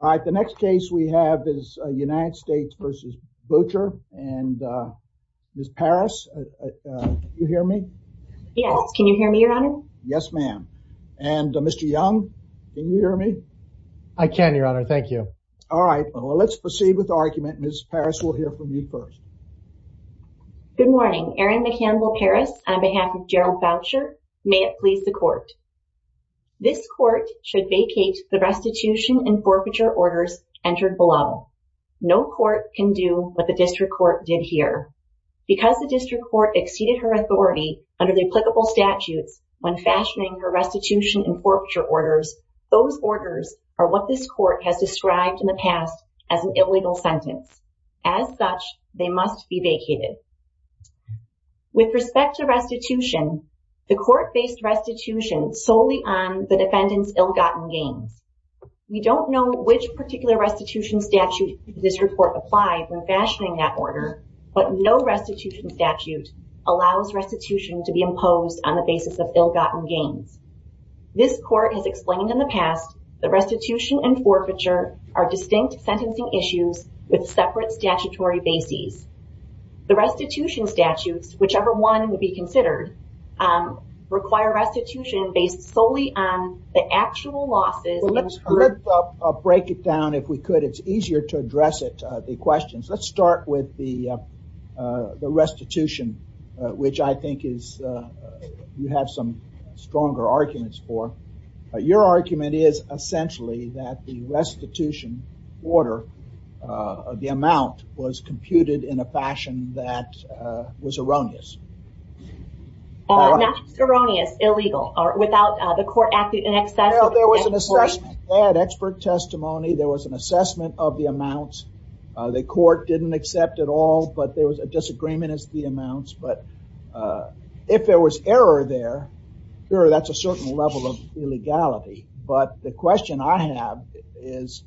All right, the next case we have is United States v. Boucher and, uh, Ms. Parris, you hear me? Yes, can you hear me, your honor? Yes, ma'am. And Mr. Young, can you hear me? I can, your honor. Thank you. All right, well, let's proceed with the argument. Ms. Parris, we'll hear from you first. Good morning. Erin McCampbell Parris on behalf of Gerald Boucher. May it please the court. This court should vacate the restitution and forfeiture orders entered below. No court can do what the district court did here. Because the district court exceeded her authority under the applicable statutes when fashioning her restitution and forfeiture orders, those orders are what this court has described in the past as an illegal sentence. As such, they must be vacated. With respect to restitution, the court based restitution solely on the defendant's ill-gotten gains. We don't know which particular restitution statute this report applied when fashioning that order, but no restitution statute allows restitution to be imposed on the basis of ill-gotten gains. This court has explained in the past the restitution and forfeiture are distinct sentencing issues with separate statutory bases. The restitution statutes, whichever one would be considered, require restitution based solely on the actual losses. Let's break it down if we could. It's easier to address it, the questions. Let's start with the restitution, which I think you have some stronger arguments for. Your argument is essentially that the restitution order, the amount, was computed in a fashion that was erroneous. Not erroneous, illegal, or without the court acting in excess. There was an assessment. They had expert testimony. There was an assessment of the amounts. The court didn't accept it all, but there was a disagreement as to the amounts. If there was error there, that's a certain level of illegality, but the question I have is,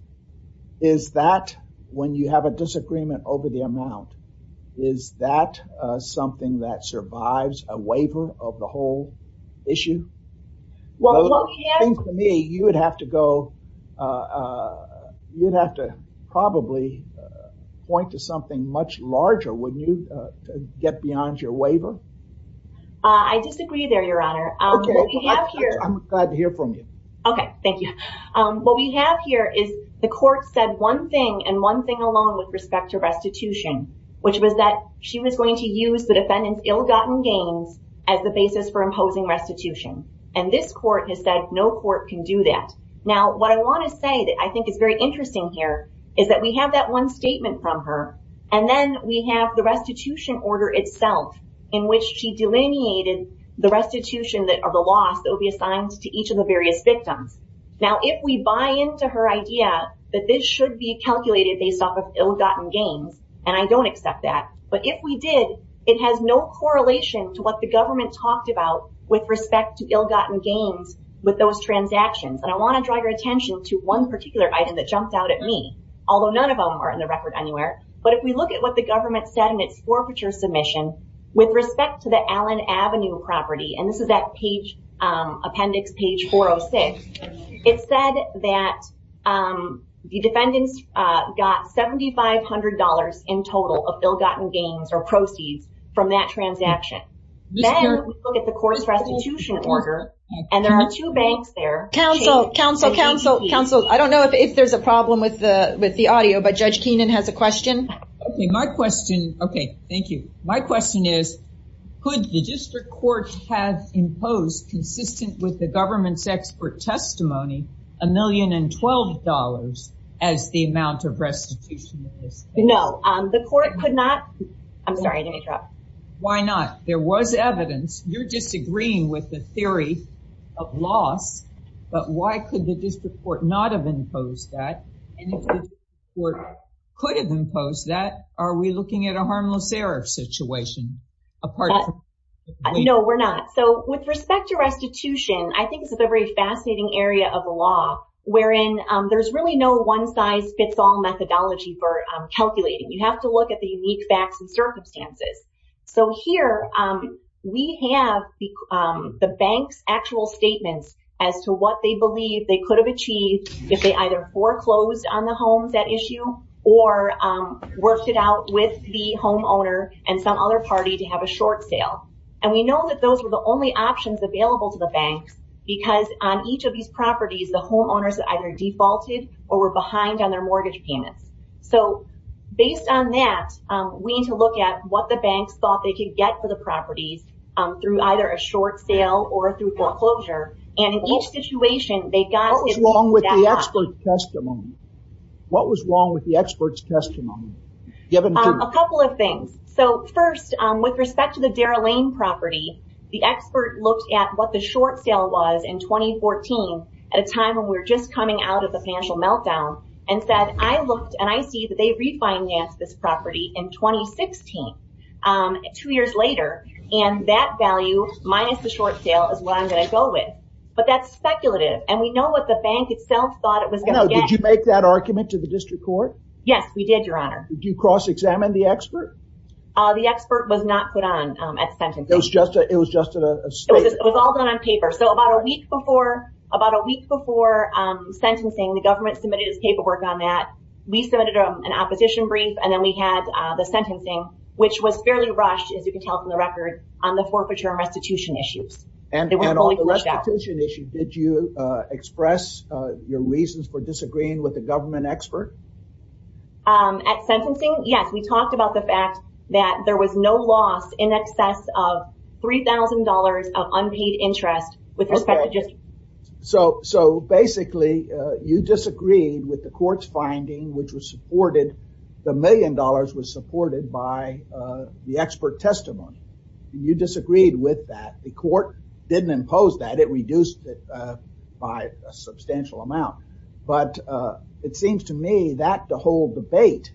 is that when you have a disagreement over the amount, is that something that survives a waiver of the whole issue? I think to me, you would have to go, you'd have to probably point to something much larger when you get beyond your waiver. I disagree there, Your Honor. I'm glad to hear from you. Okay, thank you. What we have here is the court said one thing and one thing alone with respect to restitution, which was that she was going to use the defendant's ill-gotten gains as the basis for imposing restitution. This court has said no court can do that. Now, what I want to say that I think is very interesting here is that we delineated the restitution or the loss that would be assigned to each of the various victims. Now, if we buy into her idea that this should be calculated based off of ill-gotten gains, and I don't accept that, but if we did, it has no correlation to what the government talked about with respect to ill-gotten gains with those transactions. I want to draw your attention to one particular item that jumped out at me, although none of them are in the record anywhere. If we look at what the government said in its forfeiture submission with respect to the Allen Avenue property, and this is that appendix page 406, it said that the defendants got $7,500 in total of ill-gotten gains or proceeds from that transaction. Then we look at the court's restitution order, and there are two banks there. Counsel, I don't know if there's a problem with the audio, but Judge Keenan has a question. Okay, my question, okay, thank you. My question is, could the district court have imposed, consistent with the government's expert testimony, $1,012,000 as the amount of restitution in this case? No, the court could not. I'm sorry, did I interrupt? Why not? There was evidence. You're disagreeing with the theory of loss, but why could the district court not have imposed that? And if the district court could have imposed that, are we looking at a harmless error situation? No, we're not. So, with respect to restitution, I think this is a very fascinating area of the law, wherein there's really no one size fits all methodology for calculating. You have to look at the unique facts and circumstances. So here, we have the bank's actual statements as to what they believe they could have achieved if they either foreclosed on the homes at issue, or worked it out with the homeowner and some other party to have a short sale. And we know that those were the only options available to the banks, because on each of these properties, the homeowners either defaulted or were behind on the banks thought they could get for the properties through either a short sale or through foreclosure. And in each situation, they got- What was wrong with the expert's testimony? What was wrong with the expert's testimony? A couple of things. So, first, with respect to the Dara Lane property, the expert looked at what the short sale was in 2014, at a time when we were just coming out of the financial meltdown, and said, I looked and I see that they refinanced this property in 2016, two years later, and that value minus the short sale is what I'm going to go with. But that's speculative. And we know what the bank itself thought it was going to get. Did you make that argument to the district court? Yes, we did, Your Honor. Did you cross-examine the expert? The expert was not put on at sentencing. It was just a statement. It was all done on paper. So, about a week before sentencing, the government submitted its paperwork on that. We submitted an opposition brief, and then we had the sentencing, which was fairly rushed, as you can tell from the record, on the forfeiture and restitution issues. And on the restitution issue, did you express your reasons for disagreeing with the government expert? At sentencing, yes. We talked about the fact that there was no loss in excess of $3,000 of unpaid interest with respect to district court. So, basically, you disagreed with the court's finding, which was supported, the million dollars was supported by the expert testimony. You disagreed with that. The court didn't impose that. It reduced it by a substantial amount. But it seems to me that the whole debate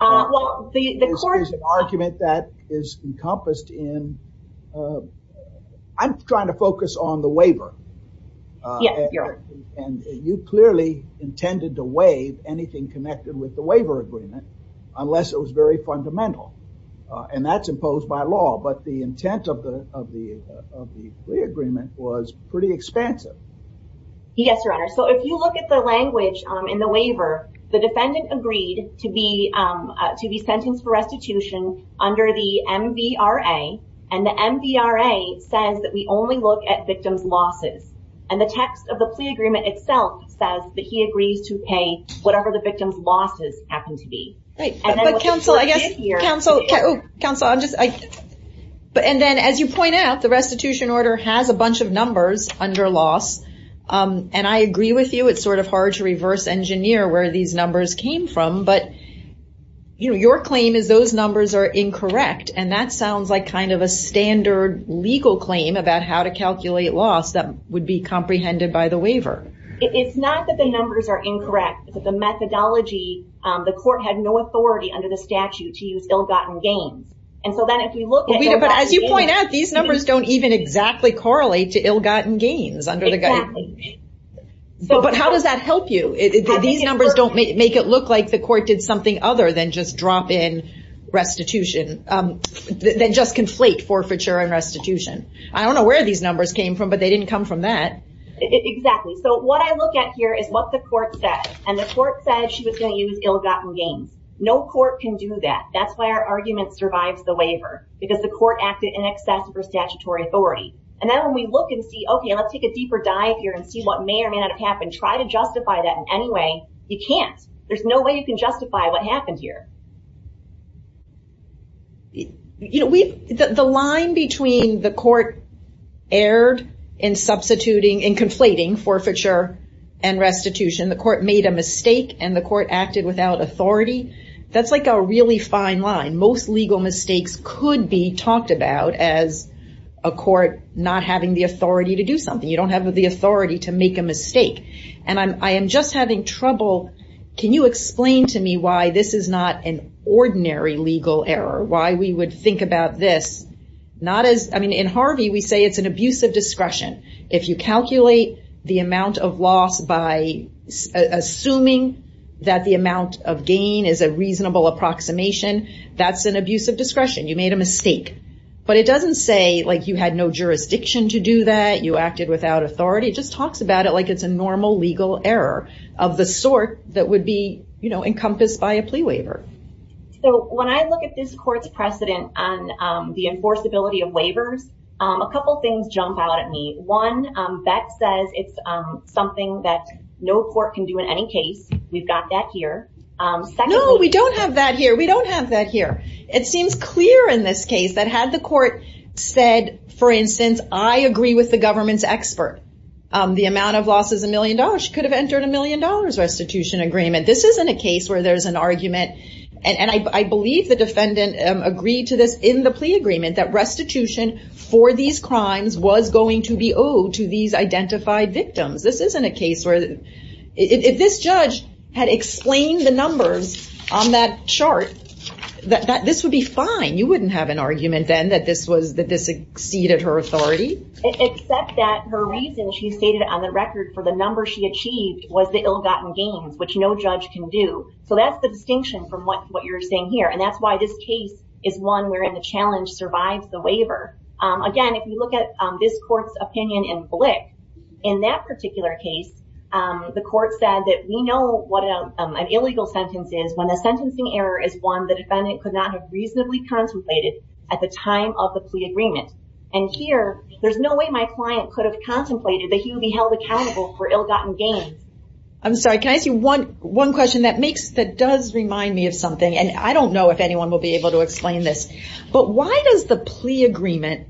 is an argument that is encompassed in, I'm trying to focus on the waiver. And you clearly intended to waive anything connected with the waiver agreement, unless it was very fundamental. And that's imposed by law. But the intent of the agreement was pretty expansive. Yes, Your Honor. So, if you look at the language in the waiver, the defendant agreed to be sentenced for restitution under the MVRA. And the MVRA says that we only look at victim's losses. And the text of the plea agreement itself says that he agrees to pay whatever the victim's losses happen to be. And then, as you point out, the restitution order has a bunch of numbers under loss. And I agree with you. It's sort of hard to reverse engineer where these numbers came from. But, you know, your claim is those numbers are incorrect. And that sounds like kind of a standard legal claim about how to calculate loss that would be comprehended by the waiver. It's not that the numbers are incorrect. It's that the methodology, the court had no authority under the statute to use ill-gotten gains. And so then if you look at- But as you point out, these numbers don't even exactly correlate to ill-gotten gains under the guidance. But how does that help you? These numbers don't make it look like the court did something other than just drop in restitution, than just conflate forfeiture and restitution. I don't know where these numbers came from, but they didn't come from that. Exactly. So, what I look at here is what the court said. And the court said she was going to use ill-gotten gains. No court can do that. That's why our argument survives the waiver. Because the court acted in excess of her statutory authority. And then when we look and see, okay, let's take a deeper dive here and see what may or may not have happened. Try to justify that in any way. You can't. There's no way you can justify what happened here. The line between the court erred in substituting and conflating forfeiture and restitution. The court made a mistake and the court acted without authority. That's like a really fine line. Most legal mistakes could be talked about as a court not having the authority to do something. You don't have the authority to make a mistake. And I am just having trouble. Can you explain to me why this is not an ordinary legal error? Why we would think about this not as... I mean, in Harvey, we say it's an abuse of discretion. If you calculate the amount of loss by assuming that the amount of gain is a reasonable approximation, that's an abuse of discretion. You made a mistake. But it doesn't say like you had no jurisdiction to do that. You acted without authority. It just talks about it like it's a normal legal error of the sort that would be encompassed by a plea waiver. So when I look at this court's precedent on the enforceability of waivers, a couple things jump out at me. One, Beck says it's something that no court can do in any case. We've got that here. No, we don't have that here. We don't have that here. It seems clear in this case that had the court said, for instance, I agree with the government's expert, the amount of loss is a million dollars. She could have entered a million dollars restitution agreement. This isn't a case where there's an argument. And I believe the defendant agreed to this in the plea agreement that restitution for these crimes was going to be owed to these identified victims. This isn't a case where if this judge had explained the numbers on that chart, that this would be fine. You wouldn't have an argument then that this exceeded her authority. Except that her reason, she stated on the record, for the number she achieved was the ill-gotten gains, which no judge can do. So that's the distinction from what you're saying here. And that's why this case is one where the challenge survives the waiver. Again, if you look at this court's opinion in Blick, in that particular case, the court said that we know what an illegal sentence is when the sentencing error is one the defendant could not have reasonably contemplated at the time of the plea agreement. And here, there's no way my client could have contemplated that he would be held accountable for ill-gotten gains. I'm sorry, can I ask you one question that makes, that does remind me of something, and I don't know if anyone will be able to explain this, but why does the plea agreement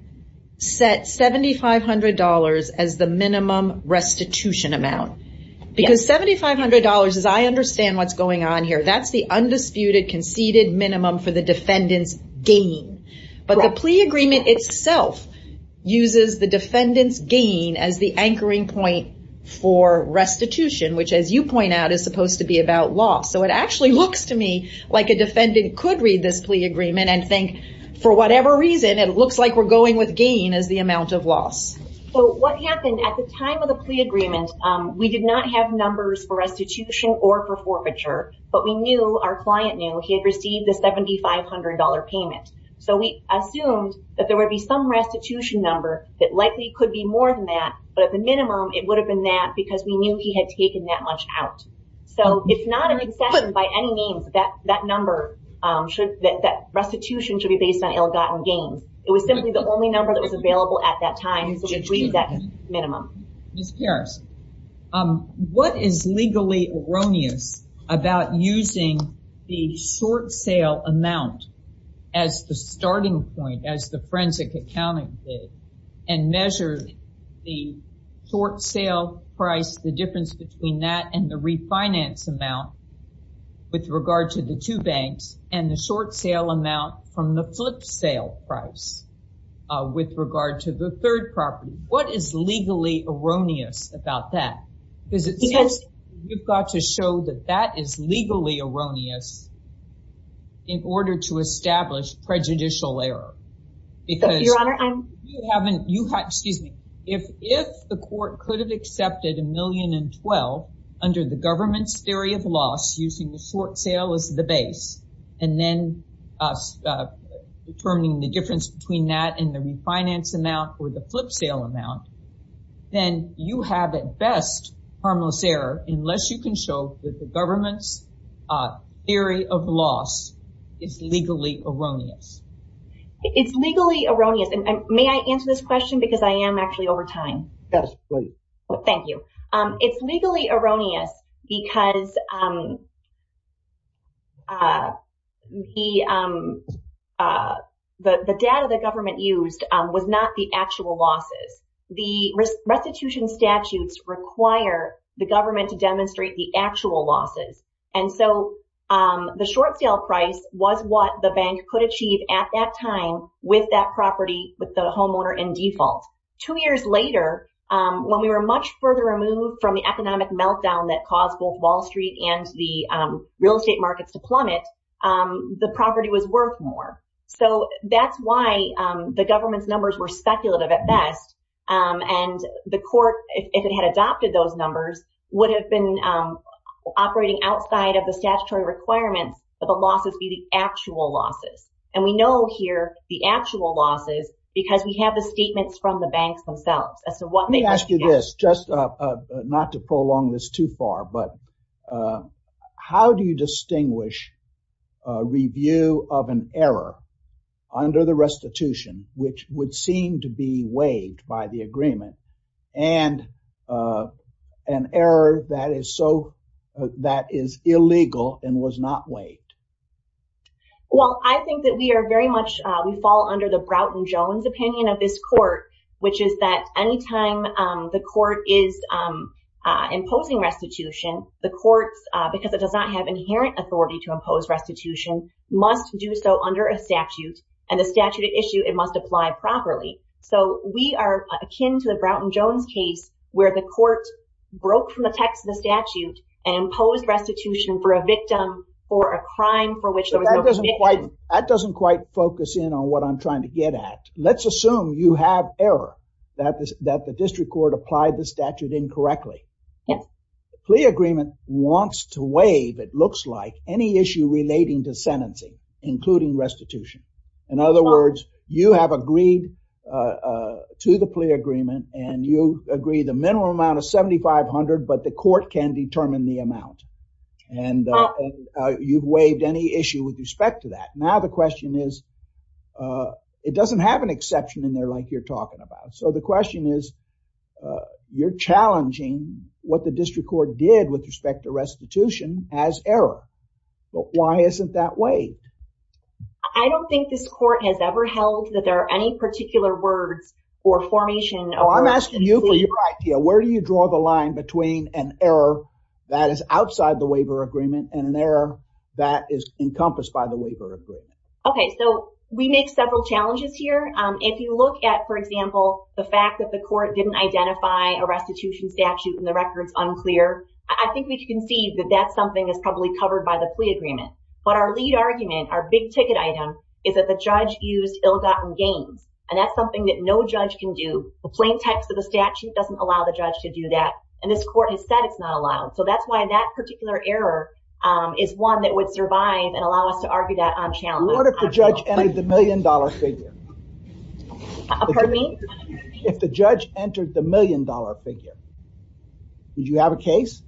set $7,500 as the minimum restitution amount? Because $7,500, as I understand what's going on here, that's the undisputed conceded minimum for the defendant's gain. But the plea agreement itself uses the defendant's gain as the anchoring point for restitution, which as you me, like a defendant could read this plea agreement and think, for whatever reason, it looks like we're going with gain as the amount of loss. So what happened at the time of the plea agreement, we did not have numbers for restitution or for forfeiture, but we knew, our client knew, he had received the $7,500 payment. So we assumed that there would be some restitution number that likely could be more than that. But at the minimum, it would have been that because we knew he had taken that much out. So it's not a concession by any means that that number should, that restitution should be based on ill-gotten gains. It was simply the only number that was available at that time. Ms. Parris, what is legally erroneous about using the short sale amount as the starting point, as the forensic accounting did, and measure the short sale price, the difference between that and the refinance amount with regard to the two banks and the short sale amount from the flip sale price with regard to the third property? What is legally erroneous about that? Because it says you've got to show that that is legally erroneous in order to establish prejudicial error. Because you haven't, you have, excuse me, if if the court could have accepted a million and 12 under the government's theory of loss using the short sale as the base, and then determining the difference between that and the refinance amount or the flip sale amount, then you have at best harmless error unless you can show that the government's theory of loss is legally erroneous. It's legally erroneous, and may I answer this question? Because I am actually over time. Absolutely. Thank you. It's legally erroneous because the data the government used was not the actual losses. The restitution statutes require the government to demonstrate the actual losses. And so the short sale price was what the bank could achieve at that time with that property, with the homeowner in default. Two years later, when we were much further removed from the economic meltdown that caused both Wall Street and the real estate markets to plummet, the property was worth more. So that's why the government's numbers would have been operating outside of the statutory requirements that the losses be the actual losses. And we know here the actual losses because we have the statements from the banks themselves. Let me ask you this, just not to prolong this too far, but how do you distinguish a review of an error under the restitution, which would seem to be waived by the agreement, and an error that is so, that is illegal and was not waived? Well, I think that we are very much, we fall under the Broughton Jones opinion of this court, which is that anytime the court is imposing restitution, the courts, because it does not have inherent authority to impose restitution, must do so under a statute, and the statute issue, must apply properly. So we are akin to the Broughton Jones case where the court broke from the text of the statute and imposed restitution for a victim or a crime for which there was no conviction. That doesn't quite focus in on what I'm trying to get at. Let's assume you have error that the district court applied the statute incorrectly. The plea agreement wants to waive, it looks like, any issue relating to sentencing, including restitution. In other words, you have agreed to the plea agreement, and you agree the minimum amount of $7,500, but the court can determine the amount. And you've waived any issue with respect to that. Now the question is, it doesn't have an exception in there like you're talking about. So the question is, you're challenging what the district court did with respect to restitution as error. Why isn't that waived? I don't think this court has ever held that there are any particular words or formation. Oh, I'm asking you for your idea. Where do you draw the line between an error that is outside the waiver agreement and an error that is encompassed by the waiver agreement? Okay, so we make several challenges here. If you look at, for example, the fact that the court didn't identify a restitution statute and the record's unclear, I think we can see that that's probably covered by the plea agreement. But our lead argument, our big ticket item, is that the judge used ill-gotten gains. And that's something that no judge can do. The plain text of the statute doesn't allow the judge to do that. And this court has said it's not allowed. So that's why that particular error is one that would survive and allow us to argue that on challenge. What if the judge entered the million-dollar figure? Pardon me? If the judge entered the million-dollar figure, would you have a case?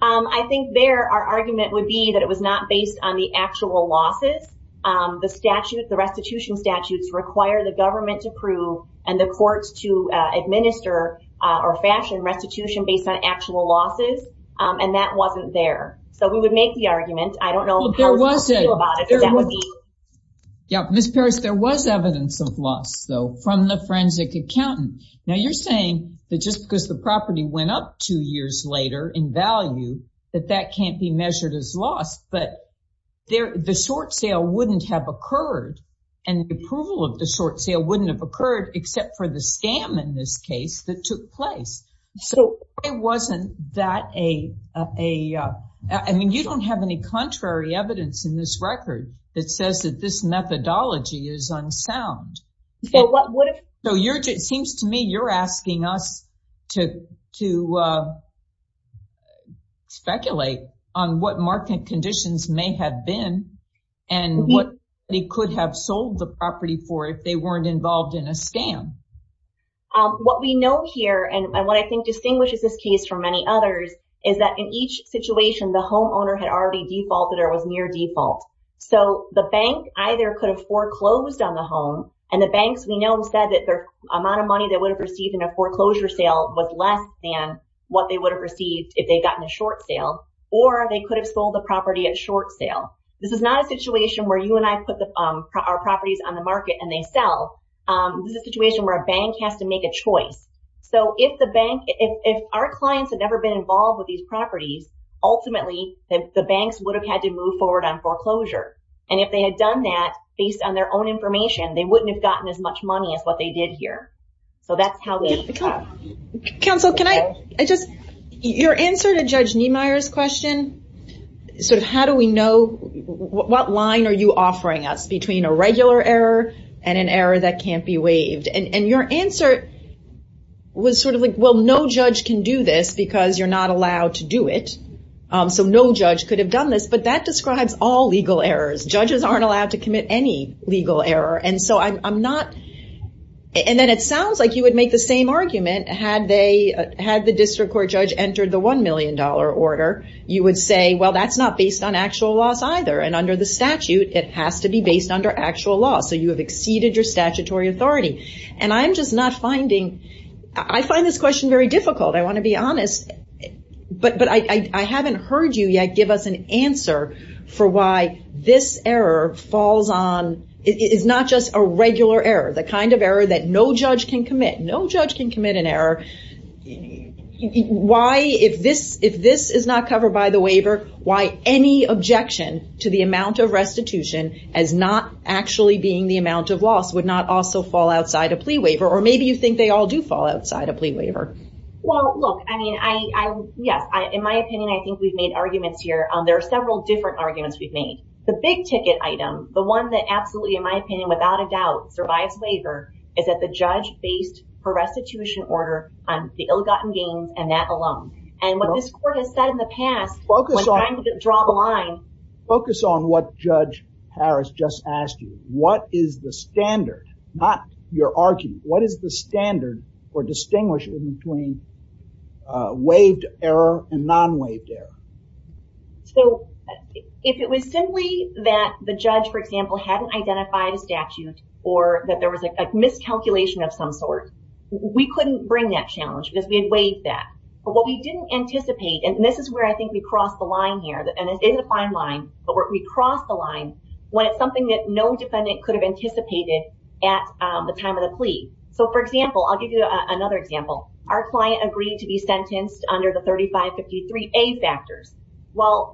I think there our argument would be that it was not based on the actual losses. The restitution statutes require the government to prove and the courts to administer or fashion restitution based on actual losses. And that wasn't there. So we would make the argument. I don't know how we feel about it, but that would be. Yeah, Ms. Parrish, there was evidence of loss, though, from the forensic accountant. Now, you're saying that just because the property went up two years later in value, that that can't be measured as loss. But the short sale wouldn't have occurred, and the approval of the short sale wouldn't have occurred except for the scam, in this case, that took place. So why wasn't that a... I mean, you don't have any contrary evidence in this record that says that this methodology is unsound. So it seems to me you're asking us to speculate on what market conditions may have been and what they could have sold the property for if they weren't involved in a scam. What we know here, and what I think distinguishes this case from many others, is that in each situation, the homeowner had already defaulted or was near default. So the bank either could have foreclosed on the home, and the banks we know said that their amount of money they would have received in a foreclosure sale was less than what they would have received if they'd gotten a short sale, or they could have sold the property at short sale. This is not a situation where you and I put our properties on the market and they sell. This is a situation where a bank has to make a choice. So if our clients had never been forward on foreclosure, and if they had done that based on their own information, they wouldn't have gotten as much money as what they did here. So that's how they... Counsel, can I just... Your answer to Judge Niemeyer's question, sort of how do we know... What line are you offering us between a regular error and an error that can't be waived? And your answer was sort of like, well, no judge can do this because you're not allowed to do it. So no judge could have done this. But that describes all legal errors. Judges aren't allowed to commit any legal error. And so I'm not... And then it sounds like you would make the same argument had the district court judge entered the $1 million order, you would say, well, that's not based on actual loss either. And under the statute, it has to be based under actual loss. So you have exceeded your statutory authority. And I'm just not finding... I find this question very difficult. I want to be honest. But I haven't heard you yet give us an answer for why this error falls on... It's not just a regular error, the kind of error that no judge can commit. No judge can commit an error. Why, if this is not covered by the waiver, why any objection to the amount of restitution as not actually being the amount of loss would not also fall outside a plea waiver? Or maybe you think they all do fall outside a plea waiver. Well, look, I mean, I... Yes. In my opinion, I think we've made arguments here. There are several different arguments we've made. The big ticket item, the one that absolutely, in my opinion, without a doubt survives waiver is that the judge based her restitution order on the ill-gotten gains and that alone. And what this court has said in the past... Focus on... When trying to your argument, what is the standard for distinguishing between waived error and non-waived error? So, if it was simply that the judge, for example, hadn't identified a statute or that there was a miscalculation of some sort, we couldn't bring that challenge because we had waived that. But what we didn't anticipate, and this is where I think we crossed the line here, and it isn't a fine line, but we crossed the line when it's something that no defendant could have anticipated at the time of the plea. So, for example, I'll give you another example. Our client agreed to be sentenced under the 3553A factors. Well,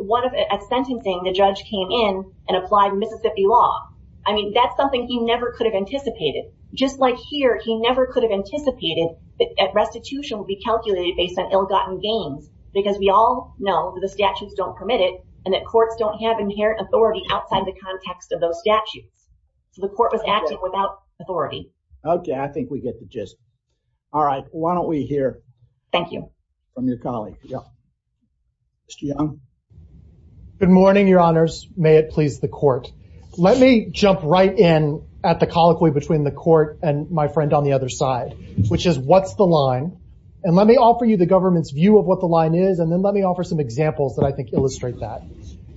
at sentencing, the judge came in and applied Mississippi law. I mean, that's something he never could have anticipated. Just like here, he never could have anticipated that restitution would be calculated based on ill-gotten gains because we all know that the statutes don't permit it and that courts don't have inherent authority outside the context of those statutes. So, the court was acting without authority. Okay. I think we get the gist. All right. Why don't we hear- Thank you.... from your colleague. Yeah. Mr. Young? Good morning, Your Honors. May it please the court. Let me jump right in at the colloquy between the court and my friend on the other side, which is what's the line? And let me offer you the government's view of what the line is, and then let me offer some examples that I think illustrate that.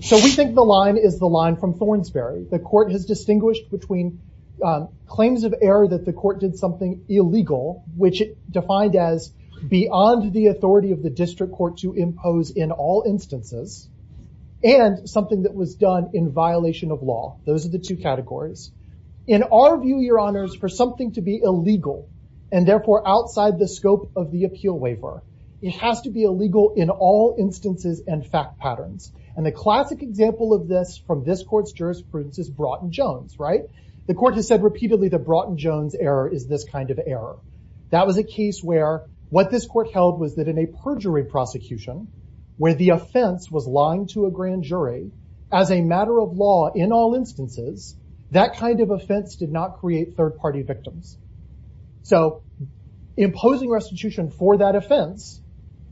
So, we think the line is the line from Thornsberry. The court has distinguished between claims of error that the court did something illegal, which it defined as beyond the authority of the district court to impose in all instances, and something that was done in violation of law. Those are the two categories. In our view, Your Honors, for something to be illegal, and therefore outside the scope of the appeal waiver, it has to be illegal in all patterns. And the classic example of this from this court's jurisprudence is Broughton-Jones, right? The court has said repeatedly that Broughton-Jones error is this kind of error. That was a case where what this court held was that in a perjury prosecution, where the offense was lying to a grand jury as a matter of law in all instances, that kind of offense did not create third-party victims. So, imposing restitution for that offense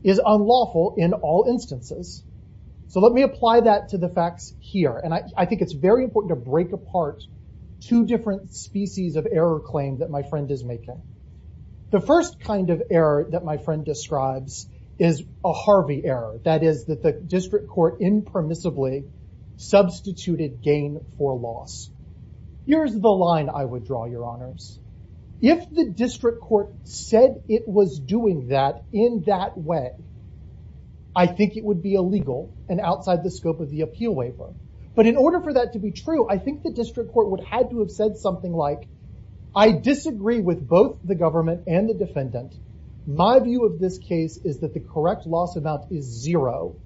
is unlawful in all instances. Let me apply that to the facts here. And I think it's very important to break apart two different species of error claim that my friend is making. The first kind of error that my friend describes is a Harvey error. That is that the district court impermissibly substituted gain for loss. Here's the line I would draw, Your Honors. If the district court said it was doing that in that way, I think it would be illegal and outside the scope of the appeal waiver. But in order for that to be true, I think the district court would have to have said something like, I disagree with both the government and the defendant. My view of this case is that the correct loss amount is zero.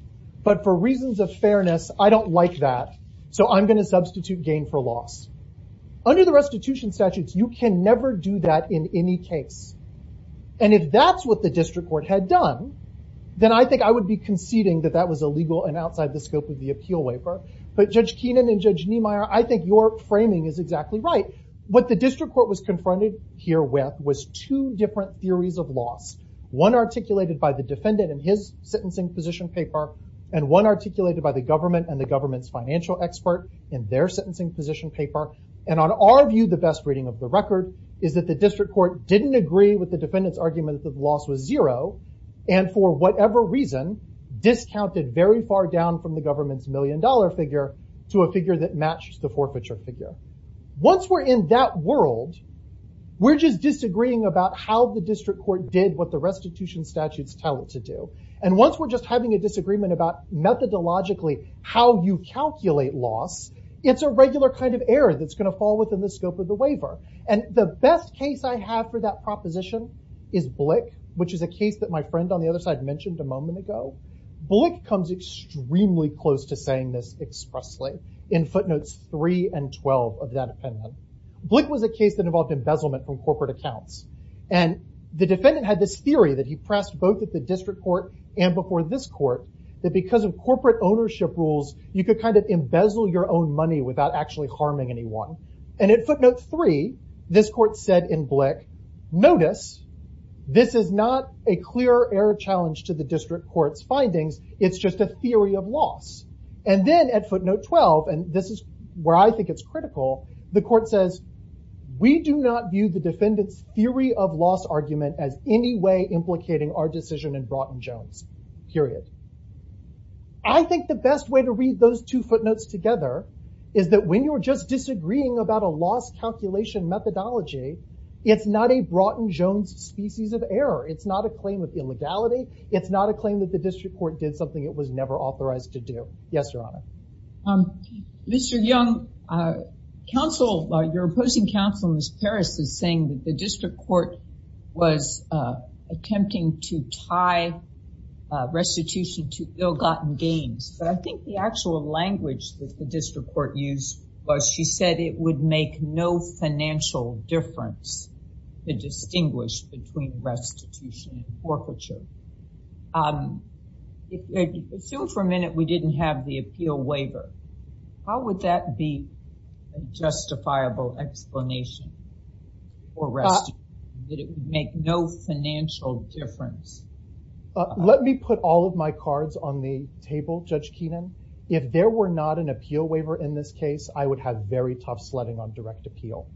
But for reasons of fairness, I don't like that. So, I'm going to substitute gain for loss. Under the restitution statutes, you can never do that in any case. And if that's what the district court had done, then I think I would be conceding that that was illegal and outside the scope of the appeal waiver. But Judge Keenan and Judge Niemeyer, I think your framing is exactly right. What the district court was confronted here with was two different theories of loss. One articulated by the defendant in his sentencing position paper, and one articulated by the government and the government's financial expert in their sentencing position paper. And on our view, the best reading of the record is that the district court didn't agree with the defendant's argument that the loss was zero. And for whatever reason, discounted very far down from the government's million dollar figure to a figure that matched the forfeiture figure. Once we're in that world, we're just disagreeing about how the district court did what the restitution statutes tell it to do. And once we're just having a disagreement about methodologically how you calculate loss, it's a regular kind of error that's going to fall within the scope of the waiver. And the best case I have for that proposition is Blick, which is a case that my friend on the other side mentioned a moment ago. Blick comes extremely close to saying this expressly in footnotes three and 12 of that appendix. Blick was a case that involved embezzlement from corporate accounts. And the defendant had this theory that he pressed both at the district court and before this court that because of corporate ownership rules, you could kind of this court said in Blick, notice this is not a clear error challenge to the district court's findings. It's just a theory of loss. And then at footnote 12, and this is where I think it's critical, the court says, we do not view the defendant's theory of loss argument as any way implicating our decision in Broughton Jones, period. I think the best way to read those two methodology, it's not a Broughton Jones species of error. It's not a claim of illegality. It's not a claim that the district court did something it was never authorized to do. Yes, Your Honor. Mr. Young, your opposing counsel, Ms. Paris, is saying that the district court was attempting to tie restitution to ill-gotten gains. But I think the actual language that the district court used was she said it would make no financial difference to distinguish between restitution and forfeiture. Assume for a minute we didn't have the appeal waiver. How would that be a justifiable explanation for restitution, that it would make no financial difference? Let me put all of my cards on the table, Judge Keenan. If there were not an appeal waiver in this case, I would have very tough sledding on direct appeal.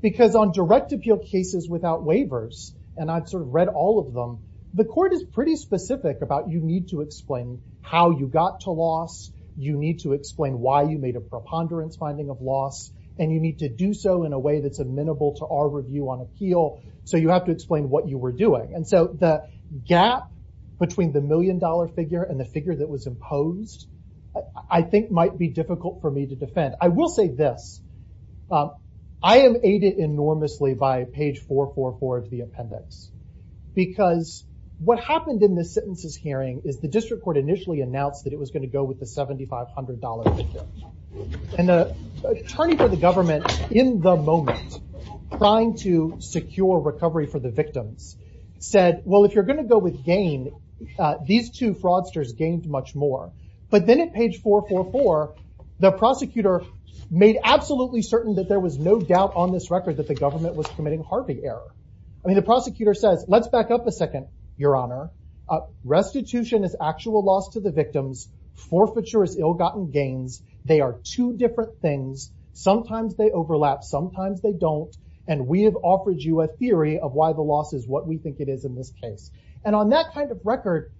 Because on direct appeal cases without waivers, and I've sort of read all of them, the court is pretty specific about you need to explain how you got to loss. You need to explain why you made a preponderance finding of loss. And you need to do so in a way that's amenable to our review on appeal. So you have to explain what you were doing. And so the gap between the million figure and the figure that was imposed I think might be difficult for me to defend. I will say this. I am aided enormously by page 444 of the appendix. Because what happened in this sentence's hearing is the district court initially announced that it was going to go with the $7,500 figure. And the attorney for the government in the moment trying to secure recovery for the victims said, well, if you're going to go with gain, these two fraudsters gained much more. But then at page 444, the prosecutor made absolutely certain that there was no doubt on this record that the government was committing Harvey error. I mean, the prosecutor says, let's back up a second, Your Honor. Restitution is actual loss to the victims. Forfeiture is ill-gotten gains. They are two different things. Sometimes they overlap. Sometimes they don't. And we have offered you a theory of why the loss is what we think it is in this case. And on that kind of record,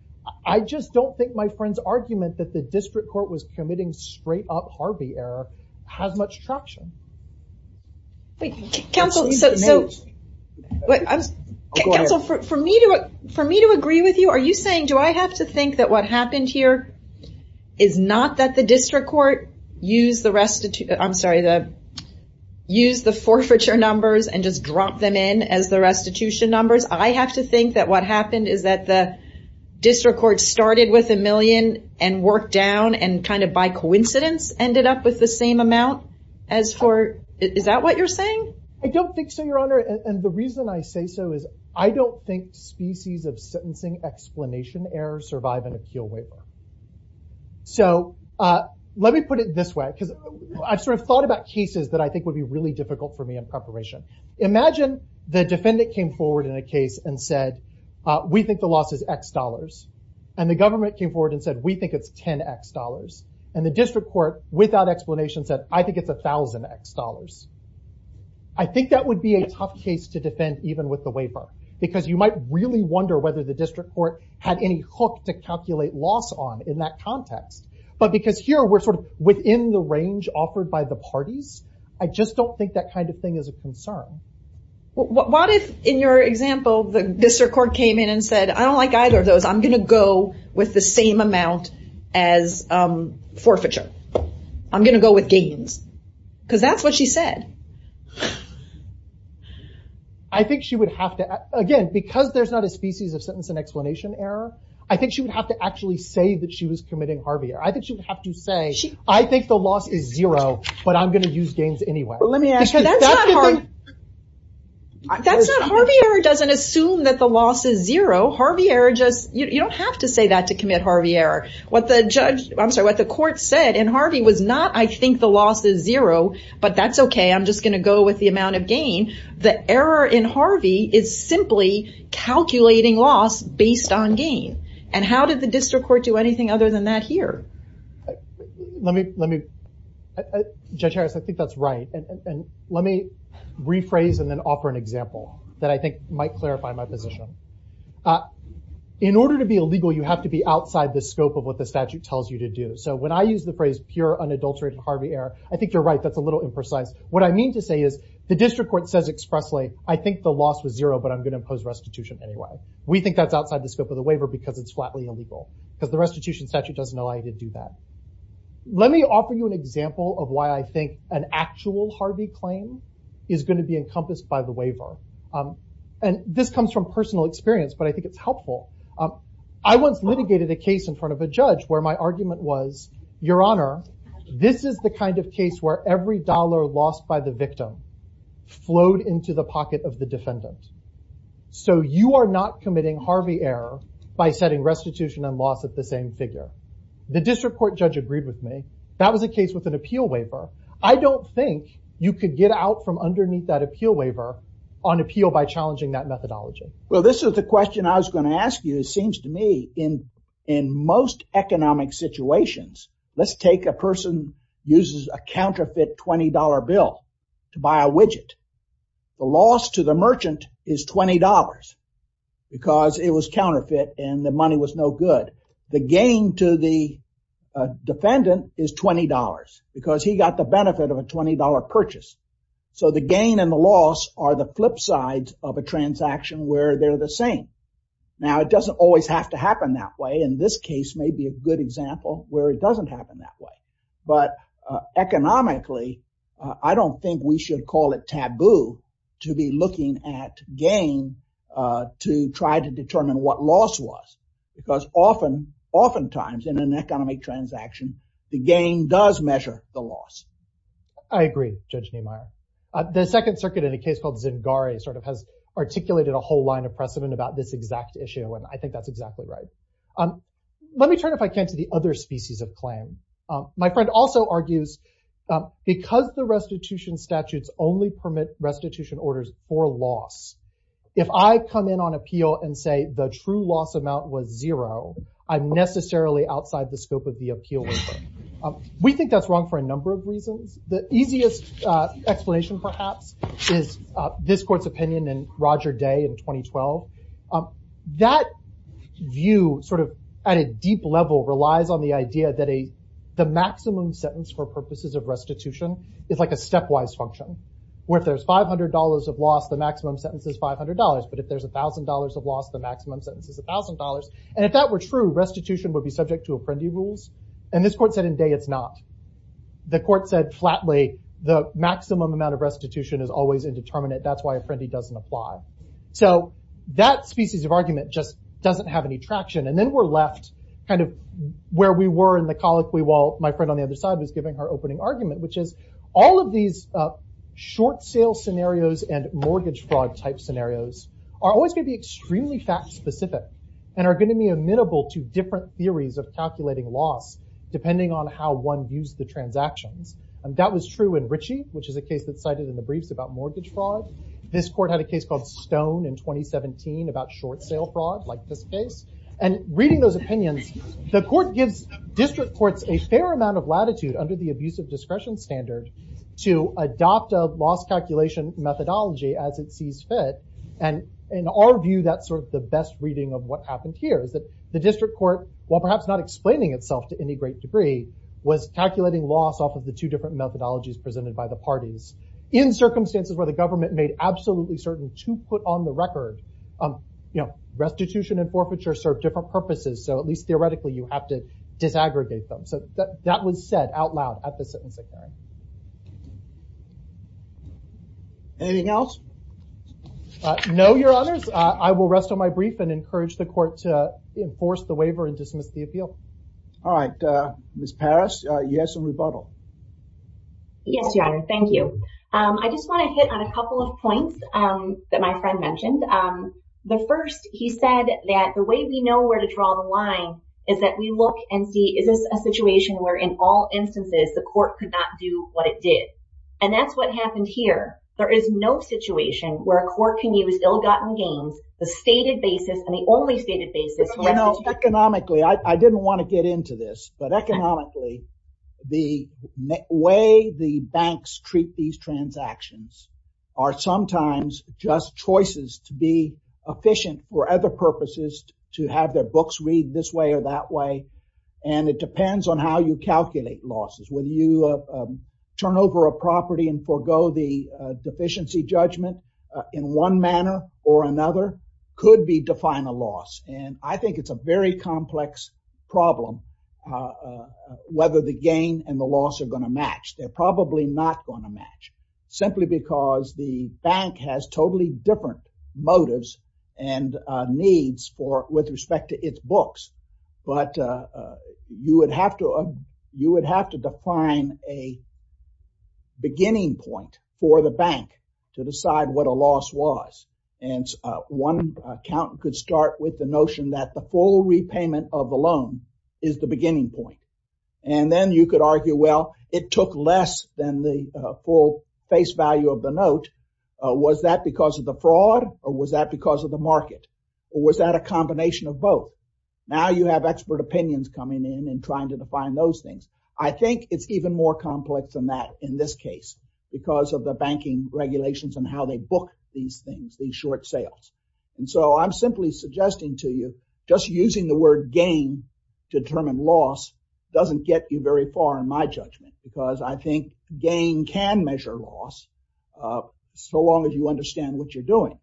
I just don't think my friend's argument that the district court was committing straight-up Harvey error has much traction. Wait, counsel, so, wait, counsel, for me to agree with you, are you saying do I have to think that what happened here is not that the district court used the restitution, I'm sorry, used the forfeiture numbers and just dropped them in as the restitution numbers? I have to think that what happened is that the district court started with a million and worked down and kind of by coincidence ended up with the same amount as for, is that what you're saying? I don't think so, Your Honor. And the reason I say so is I don't think species of sentencing explanation error survive an appeal waiver. So, let me put it this way, because I've sort of thought about cases that I think would be really difficult for me in preparation. Imagine the defendant came forward in a case and said, we think the loss is X dollars. And the government came forward and said, we think it's 10X dollars. And the district court without explanation said, I think it's 1,000X dollars. I think that would be a tough case to defend even with the waiver, because you might really wonder whether the district court had any hook to calculate loss on in that context. But because here we're sort of within the range offered by the parties, I just don't think that kind of thing is a concern. What if, in your example, the district court came in and said, I don't like either of those, I'm going to go with the same amount as forfeiture. I'm going to go with gains. Because that's what she said. I think she would have to, again, because there's not a species of sentence and explanation error, I think she would have to actually say that she was committing Harvey error. I think she would have to say, I think the loss is zero, but I'm going to use gains anyway. But let me ask you, that's not Harvey error doesn't assume that the loss is zero. Harvey error just, you don't have to say that to commit Harvey error. What the judge, I'm sorry, what the judge said, I'm just going to go with the amount of gain. The error in Harvey is simply calculating loss based on gain. How did the district court do anything other than that here? Let me, Judge Harris, I think that's right. Let me rephrase and then offer an example that I think might clarify my position. In order to be illegal, you have to be outside the scope of what the statute tells you to do. When I use the phrase pure unadulterated Harvey error, I think you're that's a little imprecise. What I mean to say is the district court says expressly, I think the loss was zero, but I'm going to impose restitution anyway. We think that's outside the scope of the waiver because it's flatly illegal. Because the restitution statute doesn't allow you to do that. Let me offer you an example of why I think an actual Harvey claim is going to be encompassed by the waiver. And this comes from personal experience, but I think it's helpful. I once litigated a case in front of a judge where my argument was, your honor, this is the kind of case where every dollar lost by the victim flowed into the pocket of the defendant. So you are not committing Harvey error by setting restitution and loss at the same figure. The district court judge agreed with me. That was a case with an appeal waiver. I don't think you could get out from underneath that appeal waiver on appeal by challenging that methodology. Well, this is the question I was going to ask you. It seems to me in in most economic situations, let's take a use a counterfeit $20 bill to buy a widget. The loss to the merchant is $20 because it was counterfeit and the money was no good. The gain to the defendant is $20 because he got the benefit of a $20 purchase. So the gain and the loss are the flip sides of a transaction where they're the same. Now, it doesn't always have to happen that way. And this case may be a good example where it but economically, I don't think we should call it taboo to be looking at gain to try to determine what loss was, because often, oftentimes in an economic transaction, the gain does measure the loss. I agree, Judge Nehemiah. The Second Circuit in a case called Zingare sort of has articulated a whole line of precedent about this exact issue. And I think that's exactly right. Let me turn, if I can, to the other species of claim. My friend also argues, because the restitution statutes only permit restitution orders for loss, if I come in on appeal and say the true loss amount was zero, I'm necessarily outside the scope of the appeal. We think that's wrong for a number of reasons. The easiest explanation, perhaps, is this court's opinion in Roger Day in 2012. That view sort of at a deep level relies on the idea that the maximum sentence for purposes of restitution is like a stepwise function, where if there's $500 of loss, the maximum sentence is $500. But if there's $1,000 of loss, the maximum sentence is $1,000. And if that were true, restitution would be subject to Apprendi rules. And this court said in Day it's not. The court said flatly, the maximum amount of restitution is always indeterminate. That's why Apprendi doesn't apply. So that species of argument just doesn't have any traction. And then we're left kind of where we were in the colloquy while my friend on the other side was giving her opening argument, which is all of these short sale scenarios and mortgage fraud type scenarios are always going to be extremely fact specific and are going to be amenable to different theories of calculating loss depending on how one views the transactions. And that was in Ritchie, which is a case that cited in the briefs about mortgage fraud. This court had a case called Stone in 2017 about short sale fraud like this case. And reading those opinions, the court gives district courts a fair amount of latitude under the abusive discretion standard to adopt a loss calculation methodology as it sees fit. And in our view, that's sort of the best reading of what happened here is that the district court, while perhaps not explaining itself to any great degree, was calculating loss off of the two different methodologies presented by the parties in circumstances where the government made absolutely certain to put on the record restitution and forfeiture serve different purposes. So at least theoretically, you have to disaggregate them. So that was said out loud at the sentencing hearing. Anything else? No, Your Honors. I will rest on my brief and encourage the court to waver and dismiss the appeal. All right, Ms. Parrish, you have some rebuttal. Yes, Your Honor. Thank you. I just want to hit on a couple of points that my friend mentioned. The first, he said that the way we know where to draw the line is that we look and see is this a situation where in all instances the court could not do what it did. And that's what happened here. There is no situation where a court can use ill-gotten gains, the stated basis and the only stated basis. Economically, I didn't want to get into this, but economically, the way the banks treat these transactions are sometimes just choices to be efficient for other purposes, to have their books read this way or that way. And it depends on how you calculate losses. When you turn over a property and forego the deficiency judgment in one manner or another, could be define a loss. And I think it's a very complex problem whether the gain and the loss are going to match. They're probably not going to match simply because the bank has totally different motives and needs with respect to its books. But you would have to define a bank to decide what a loss was. And one account could start with the notion that the full repayment of the loan is the beginning point. And then you could argue, well, it took less than the full face value of the note. Was that because of the fraud or was that because of the market? Or was that a combination of both? Now you have expert opinions coming in and trying to define those things. I think it's even more complex than that in this case, because of the banking regulations and how they book these things, these short sales. And so I'm simply suggesting to you just using the word gain to determine loss doesn't get you very far in my judgment, because I think gain can measure loss so long as you understand what you're doing.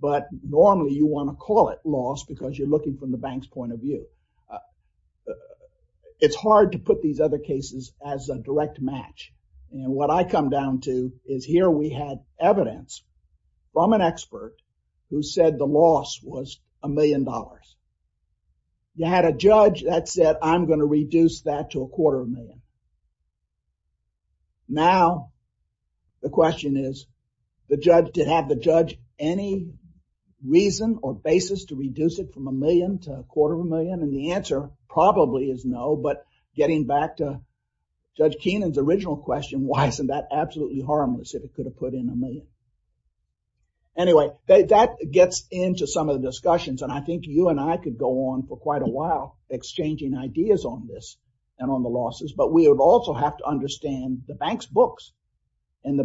But normally you want to call it loss because you're looking from the bank's point of view. It's hard to put these other cases as a direct match. And what I come down to is here we had evidence from an expert who said the loss was a million dollars. You had a judge that said, I'm going to reduce that to a quarter of a million. Now, the question is, did have the judge any reason or basis to reduce it from a million to a quarter of a million? And the answer probably is no, but getting back to Judge Keenan's original question, why isn't that absolutely harmless if it could have put in a million? Anyway, that gets into some of the discussions. And I think you and I could go on for quite a while exchanging ideas on this and on the losses, but we would also have to understand the bank's books and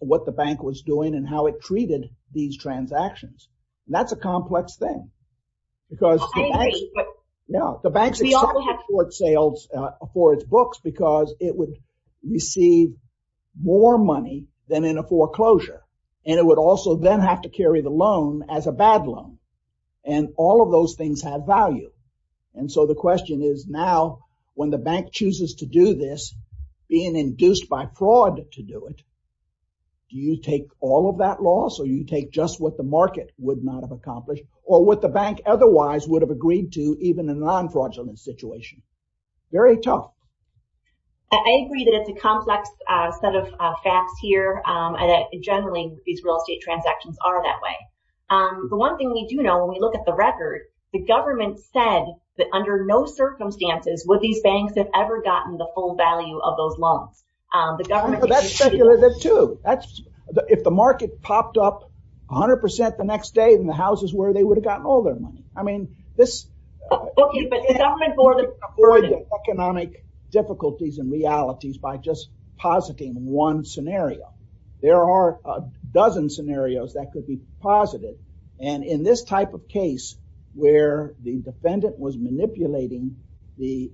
what the bank was doing and how it was making these transactions. And that's a complex thing because the bank's expected short sales for its books because it would receive more money than in a foreclosure. And it would also then have to carry the loan as a bad loan. And all of those things have value. And so the question is now when the bank chooses to do this, being induced by fraud to do it, do you take all that loss or you take just what the market would not have accomplished or what the bank otherwise would have agreed to even in a non-fraudulent situation? Very tough. I agree that it's a complex set of facts here and that generally these real estate transactions are that way. The one thing we do know when we look at the record, the government said that under no circumstances would these banks have ever gotten the full value of those loans. That's speculative too. If the market popped up 100% the next day in the houses where they would have gotten all their money. I mean, this economic difficulties and realities by just positing one scenario. There are a dozen scenarios that could be posited. And in this type of case where the defendant was manipulating the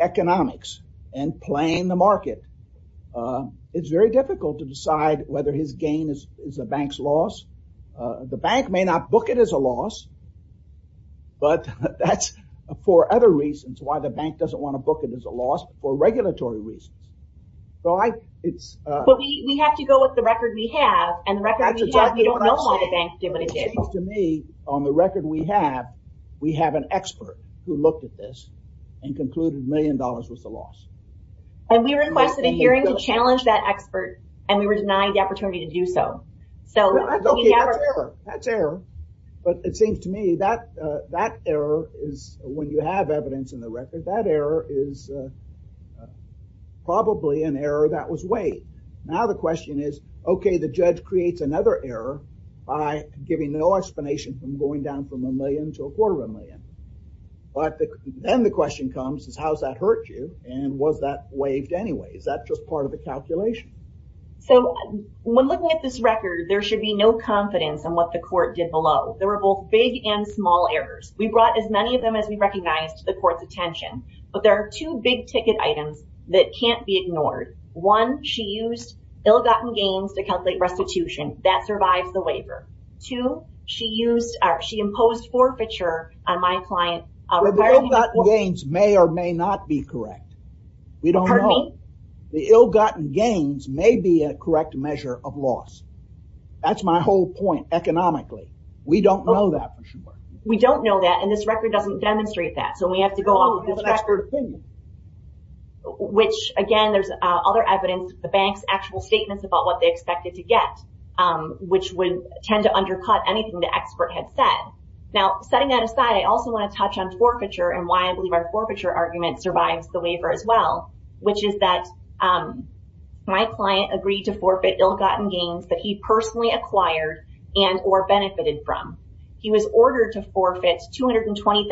economics and playing the market, it's very difficult to decide whether his gain is a bank's loss. The bank may not book it as a loss, but that's for other reasons why the bank doesn't want to book it as a loss for regulatory reasons. So, we have to go with the record we have and the record we don't know why the bank we have an expert who looked at this and concluded a million dollars was a loss. And we requested a hearing to challenge that expert and we were denied the opportunity to do so. Okay, that's error. But it seems to me that error is when you have evidence in the record, that error is probably an error that was weighed. Now the question is, okay, the judge creates another error by giving no explanation from going down from a million to a quarter of a million. But then the question comes is how's that hurt you? And was that waived anyway? Is that just part of the calculation? So, when looking at this record, there should be no confidence in what the court did below. There were both big and small errors. We brought as many of them as we recognized to the court's attention. But there are two big ticket items that can't be ignored. One, she used ill-gotten gains to calculate restitution. That survives the waiver. Two, she imposed forfeiture on my client. The ill-gotten gains may or may not be correct. We don't know. The ill-gotten gains may be a correct measure of loss. That's my whole point economically. We don't know that. We don't know that and this record doesn't demonstrate that. So, we have to go off this record, which again, there's other evidence, the bank's actual statements about what they expected to get, which would tend to undercut anything the expert had said. Now, setting that aside, I also want to touch on forfeiture and why I believe our forfeiture argument survives the waiver as well, which is that my client agreed to forfeit ill-gotten gains that he personally acquired and or benefited from. He was ordered to forfeit $220,000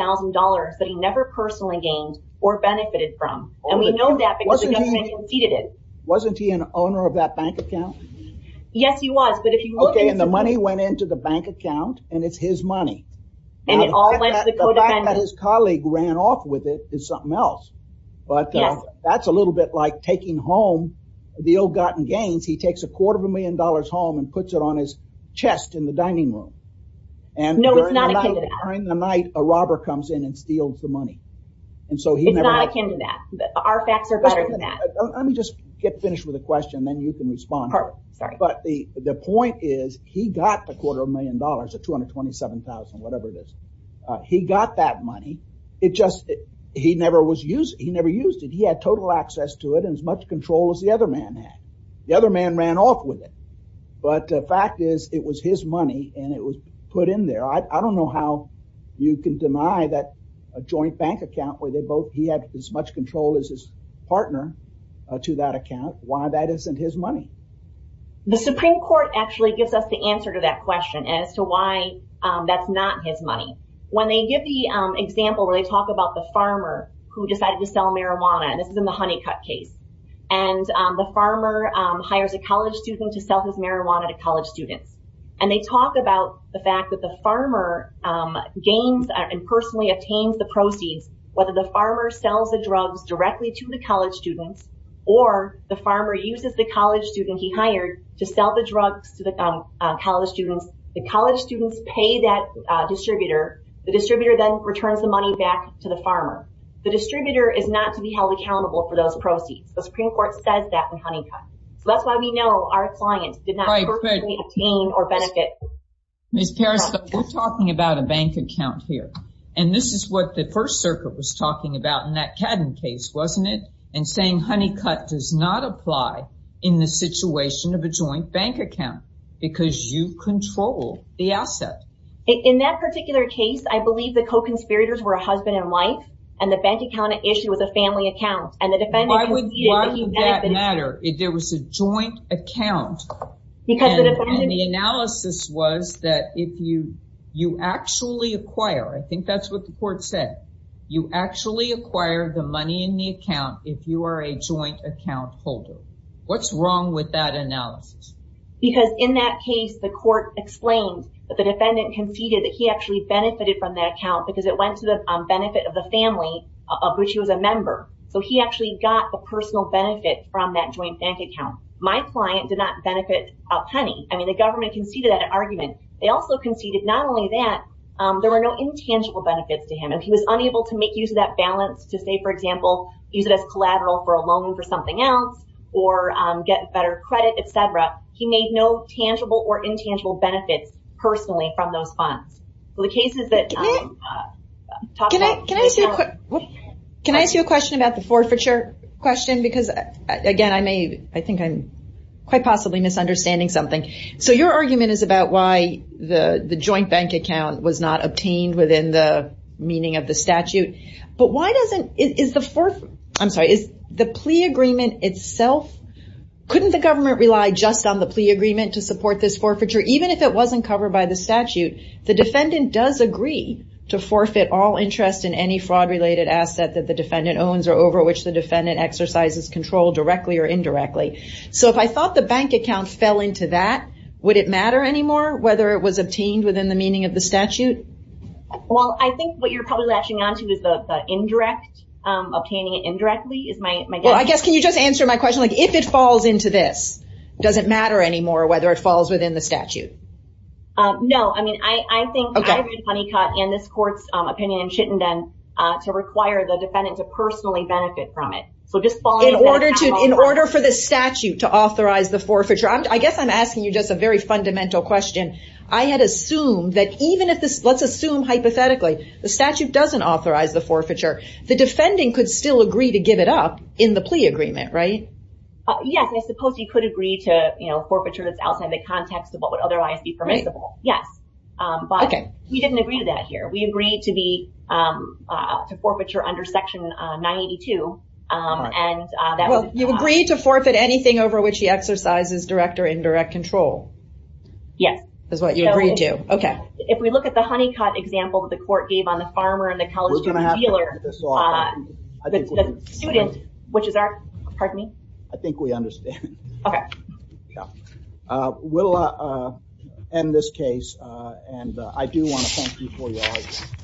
that he never personally gained or benefited from and we know that because he conceded it. Wasn't he an owner of that bank account? Yes, he was. Okay, and the money went into the bank account and it's his money. The fact that his colleague ran off with it is something else, but that's a little bit like taking home the ill-gotten gains. He takes a quarter of a million dollars home and puts it on his chest in the dining room and during the night, a robber comes in and steals the money. It's not akin to that. Our facts are better than that. Let me just get finished with a question, then you can respond. But the point is he got the quarter of a million dollars, the $227,000, whatever it is. He got that money. He never used it. He had total access to it and as much control as the other man had. The other man ran off with it, but the fact is it was money and it was put in there. I don't know how you can deny that a joint bank account where they both had as much control as his partner to that account. Why that isn't his money? The Supreme Court actually gives us the answer to that question as to why that's not his money. When they give the example where they talk about the farmer who decided to sell marijuana, and this is in the Honeycutt case, and the farmer hires a college student to sell his marijuana to college students and they talk about the fact that the farmer gains and personally obtains the proceeds, whether the farmer sells the drugs directly to the college students or the farmer uses the college student he hired to sell the drugs to the college students. The college students pay that distributor. The distributor then returns the money back to the farmer. The distributor is not to be held accountable for those proceeds. The Supreme Court says that in Honeycutt. That's why we know our client did not personally obtain or benefit. Ms. Peres, we're talking about a bank account here, and this is what the First Circuit was talking about in that Cadden case, wasn't it? And saying Honeycutt does not apply in the situation of a joint bank account because you control the asset. In that particular case, I believe the co-conspirators were a husband and wife and the bank account issue was a family account and the defendant... Why would that account? The analysis was that if you actually acquire, I think that's what the court said, you actually acquire the money in the account if you are a joint account holder. What's wrong with that analysis? Because in that case, the court explained that the defendant conceded that he actually benefited from that account because it went to the benefit of the family of which he was a member. So he actually got the personal benefit from that joint bank account. My client did not benefit a penny. I mean, the government conceded that argument. They also conceded not only that, there were no intangible benefits to him and he was unable to make use of that balance to say, for example, use it as collateral for a loan for something else or get better credit, et cetera. He made no tangible or intangible benefits personally from those funds. So the cases that... Can I ask you a question about the forfeiture question? Because again, I think I'm quite possibly misunderstanding something. So your argument is about why the joint bank account was not obtained within the meaning of the statute, but why doesn't... Is the plea agreement itself... Couldn't the government rely just on the plea agreement to support this forfeiture, even if it wasn't covered by the statute? The defendant does agree to forfeit all interest in any fraud related asset that the defendant owns or over which the exercise is controlled directly or indirectly. So if I thought the bank account fell into that, would it matter anymore whether it was obtained within the meaning of the statute? Well, I think what you're probably latching onto is the indirect, obtaining it indirectly is my... Well, I guess, can you just answer my question? If it falls into this, does it matter anymore whether it falls within the statute? No. I mean, I think I read Honeycutt and this court's opinion in Chittenden to require the In order for the statute to authorize the forfeiture, I guess I'm asking you just a very fundamental question. I had assumed that even if this, let's assume hypothetically, the statute doesn't authorize the forfeiture, the defending could still agree to give it up in the plea agreement, right? Yes. I suppose you could agree to forfeiture that's outside the context of what would otherwise be permissible. Yes. But we didn't agree to that here. We agreed to be, to forfeiture under section 982 and that was... Well, you agreed to forfeit anything over which he exercises direct or indirect control. Yes. Is what you agreed to. Okay. If we look at the Honeycutt example that the court gave on the farmer and the college student dealer, the student, which is our, pardon me? I think we understand. Okay. Yeah. We'll end this case and I do want to thank you for your audience.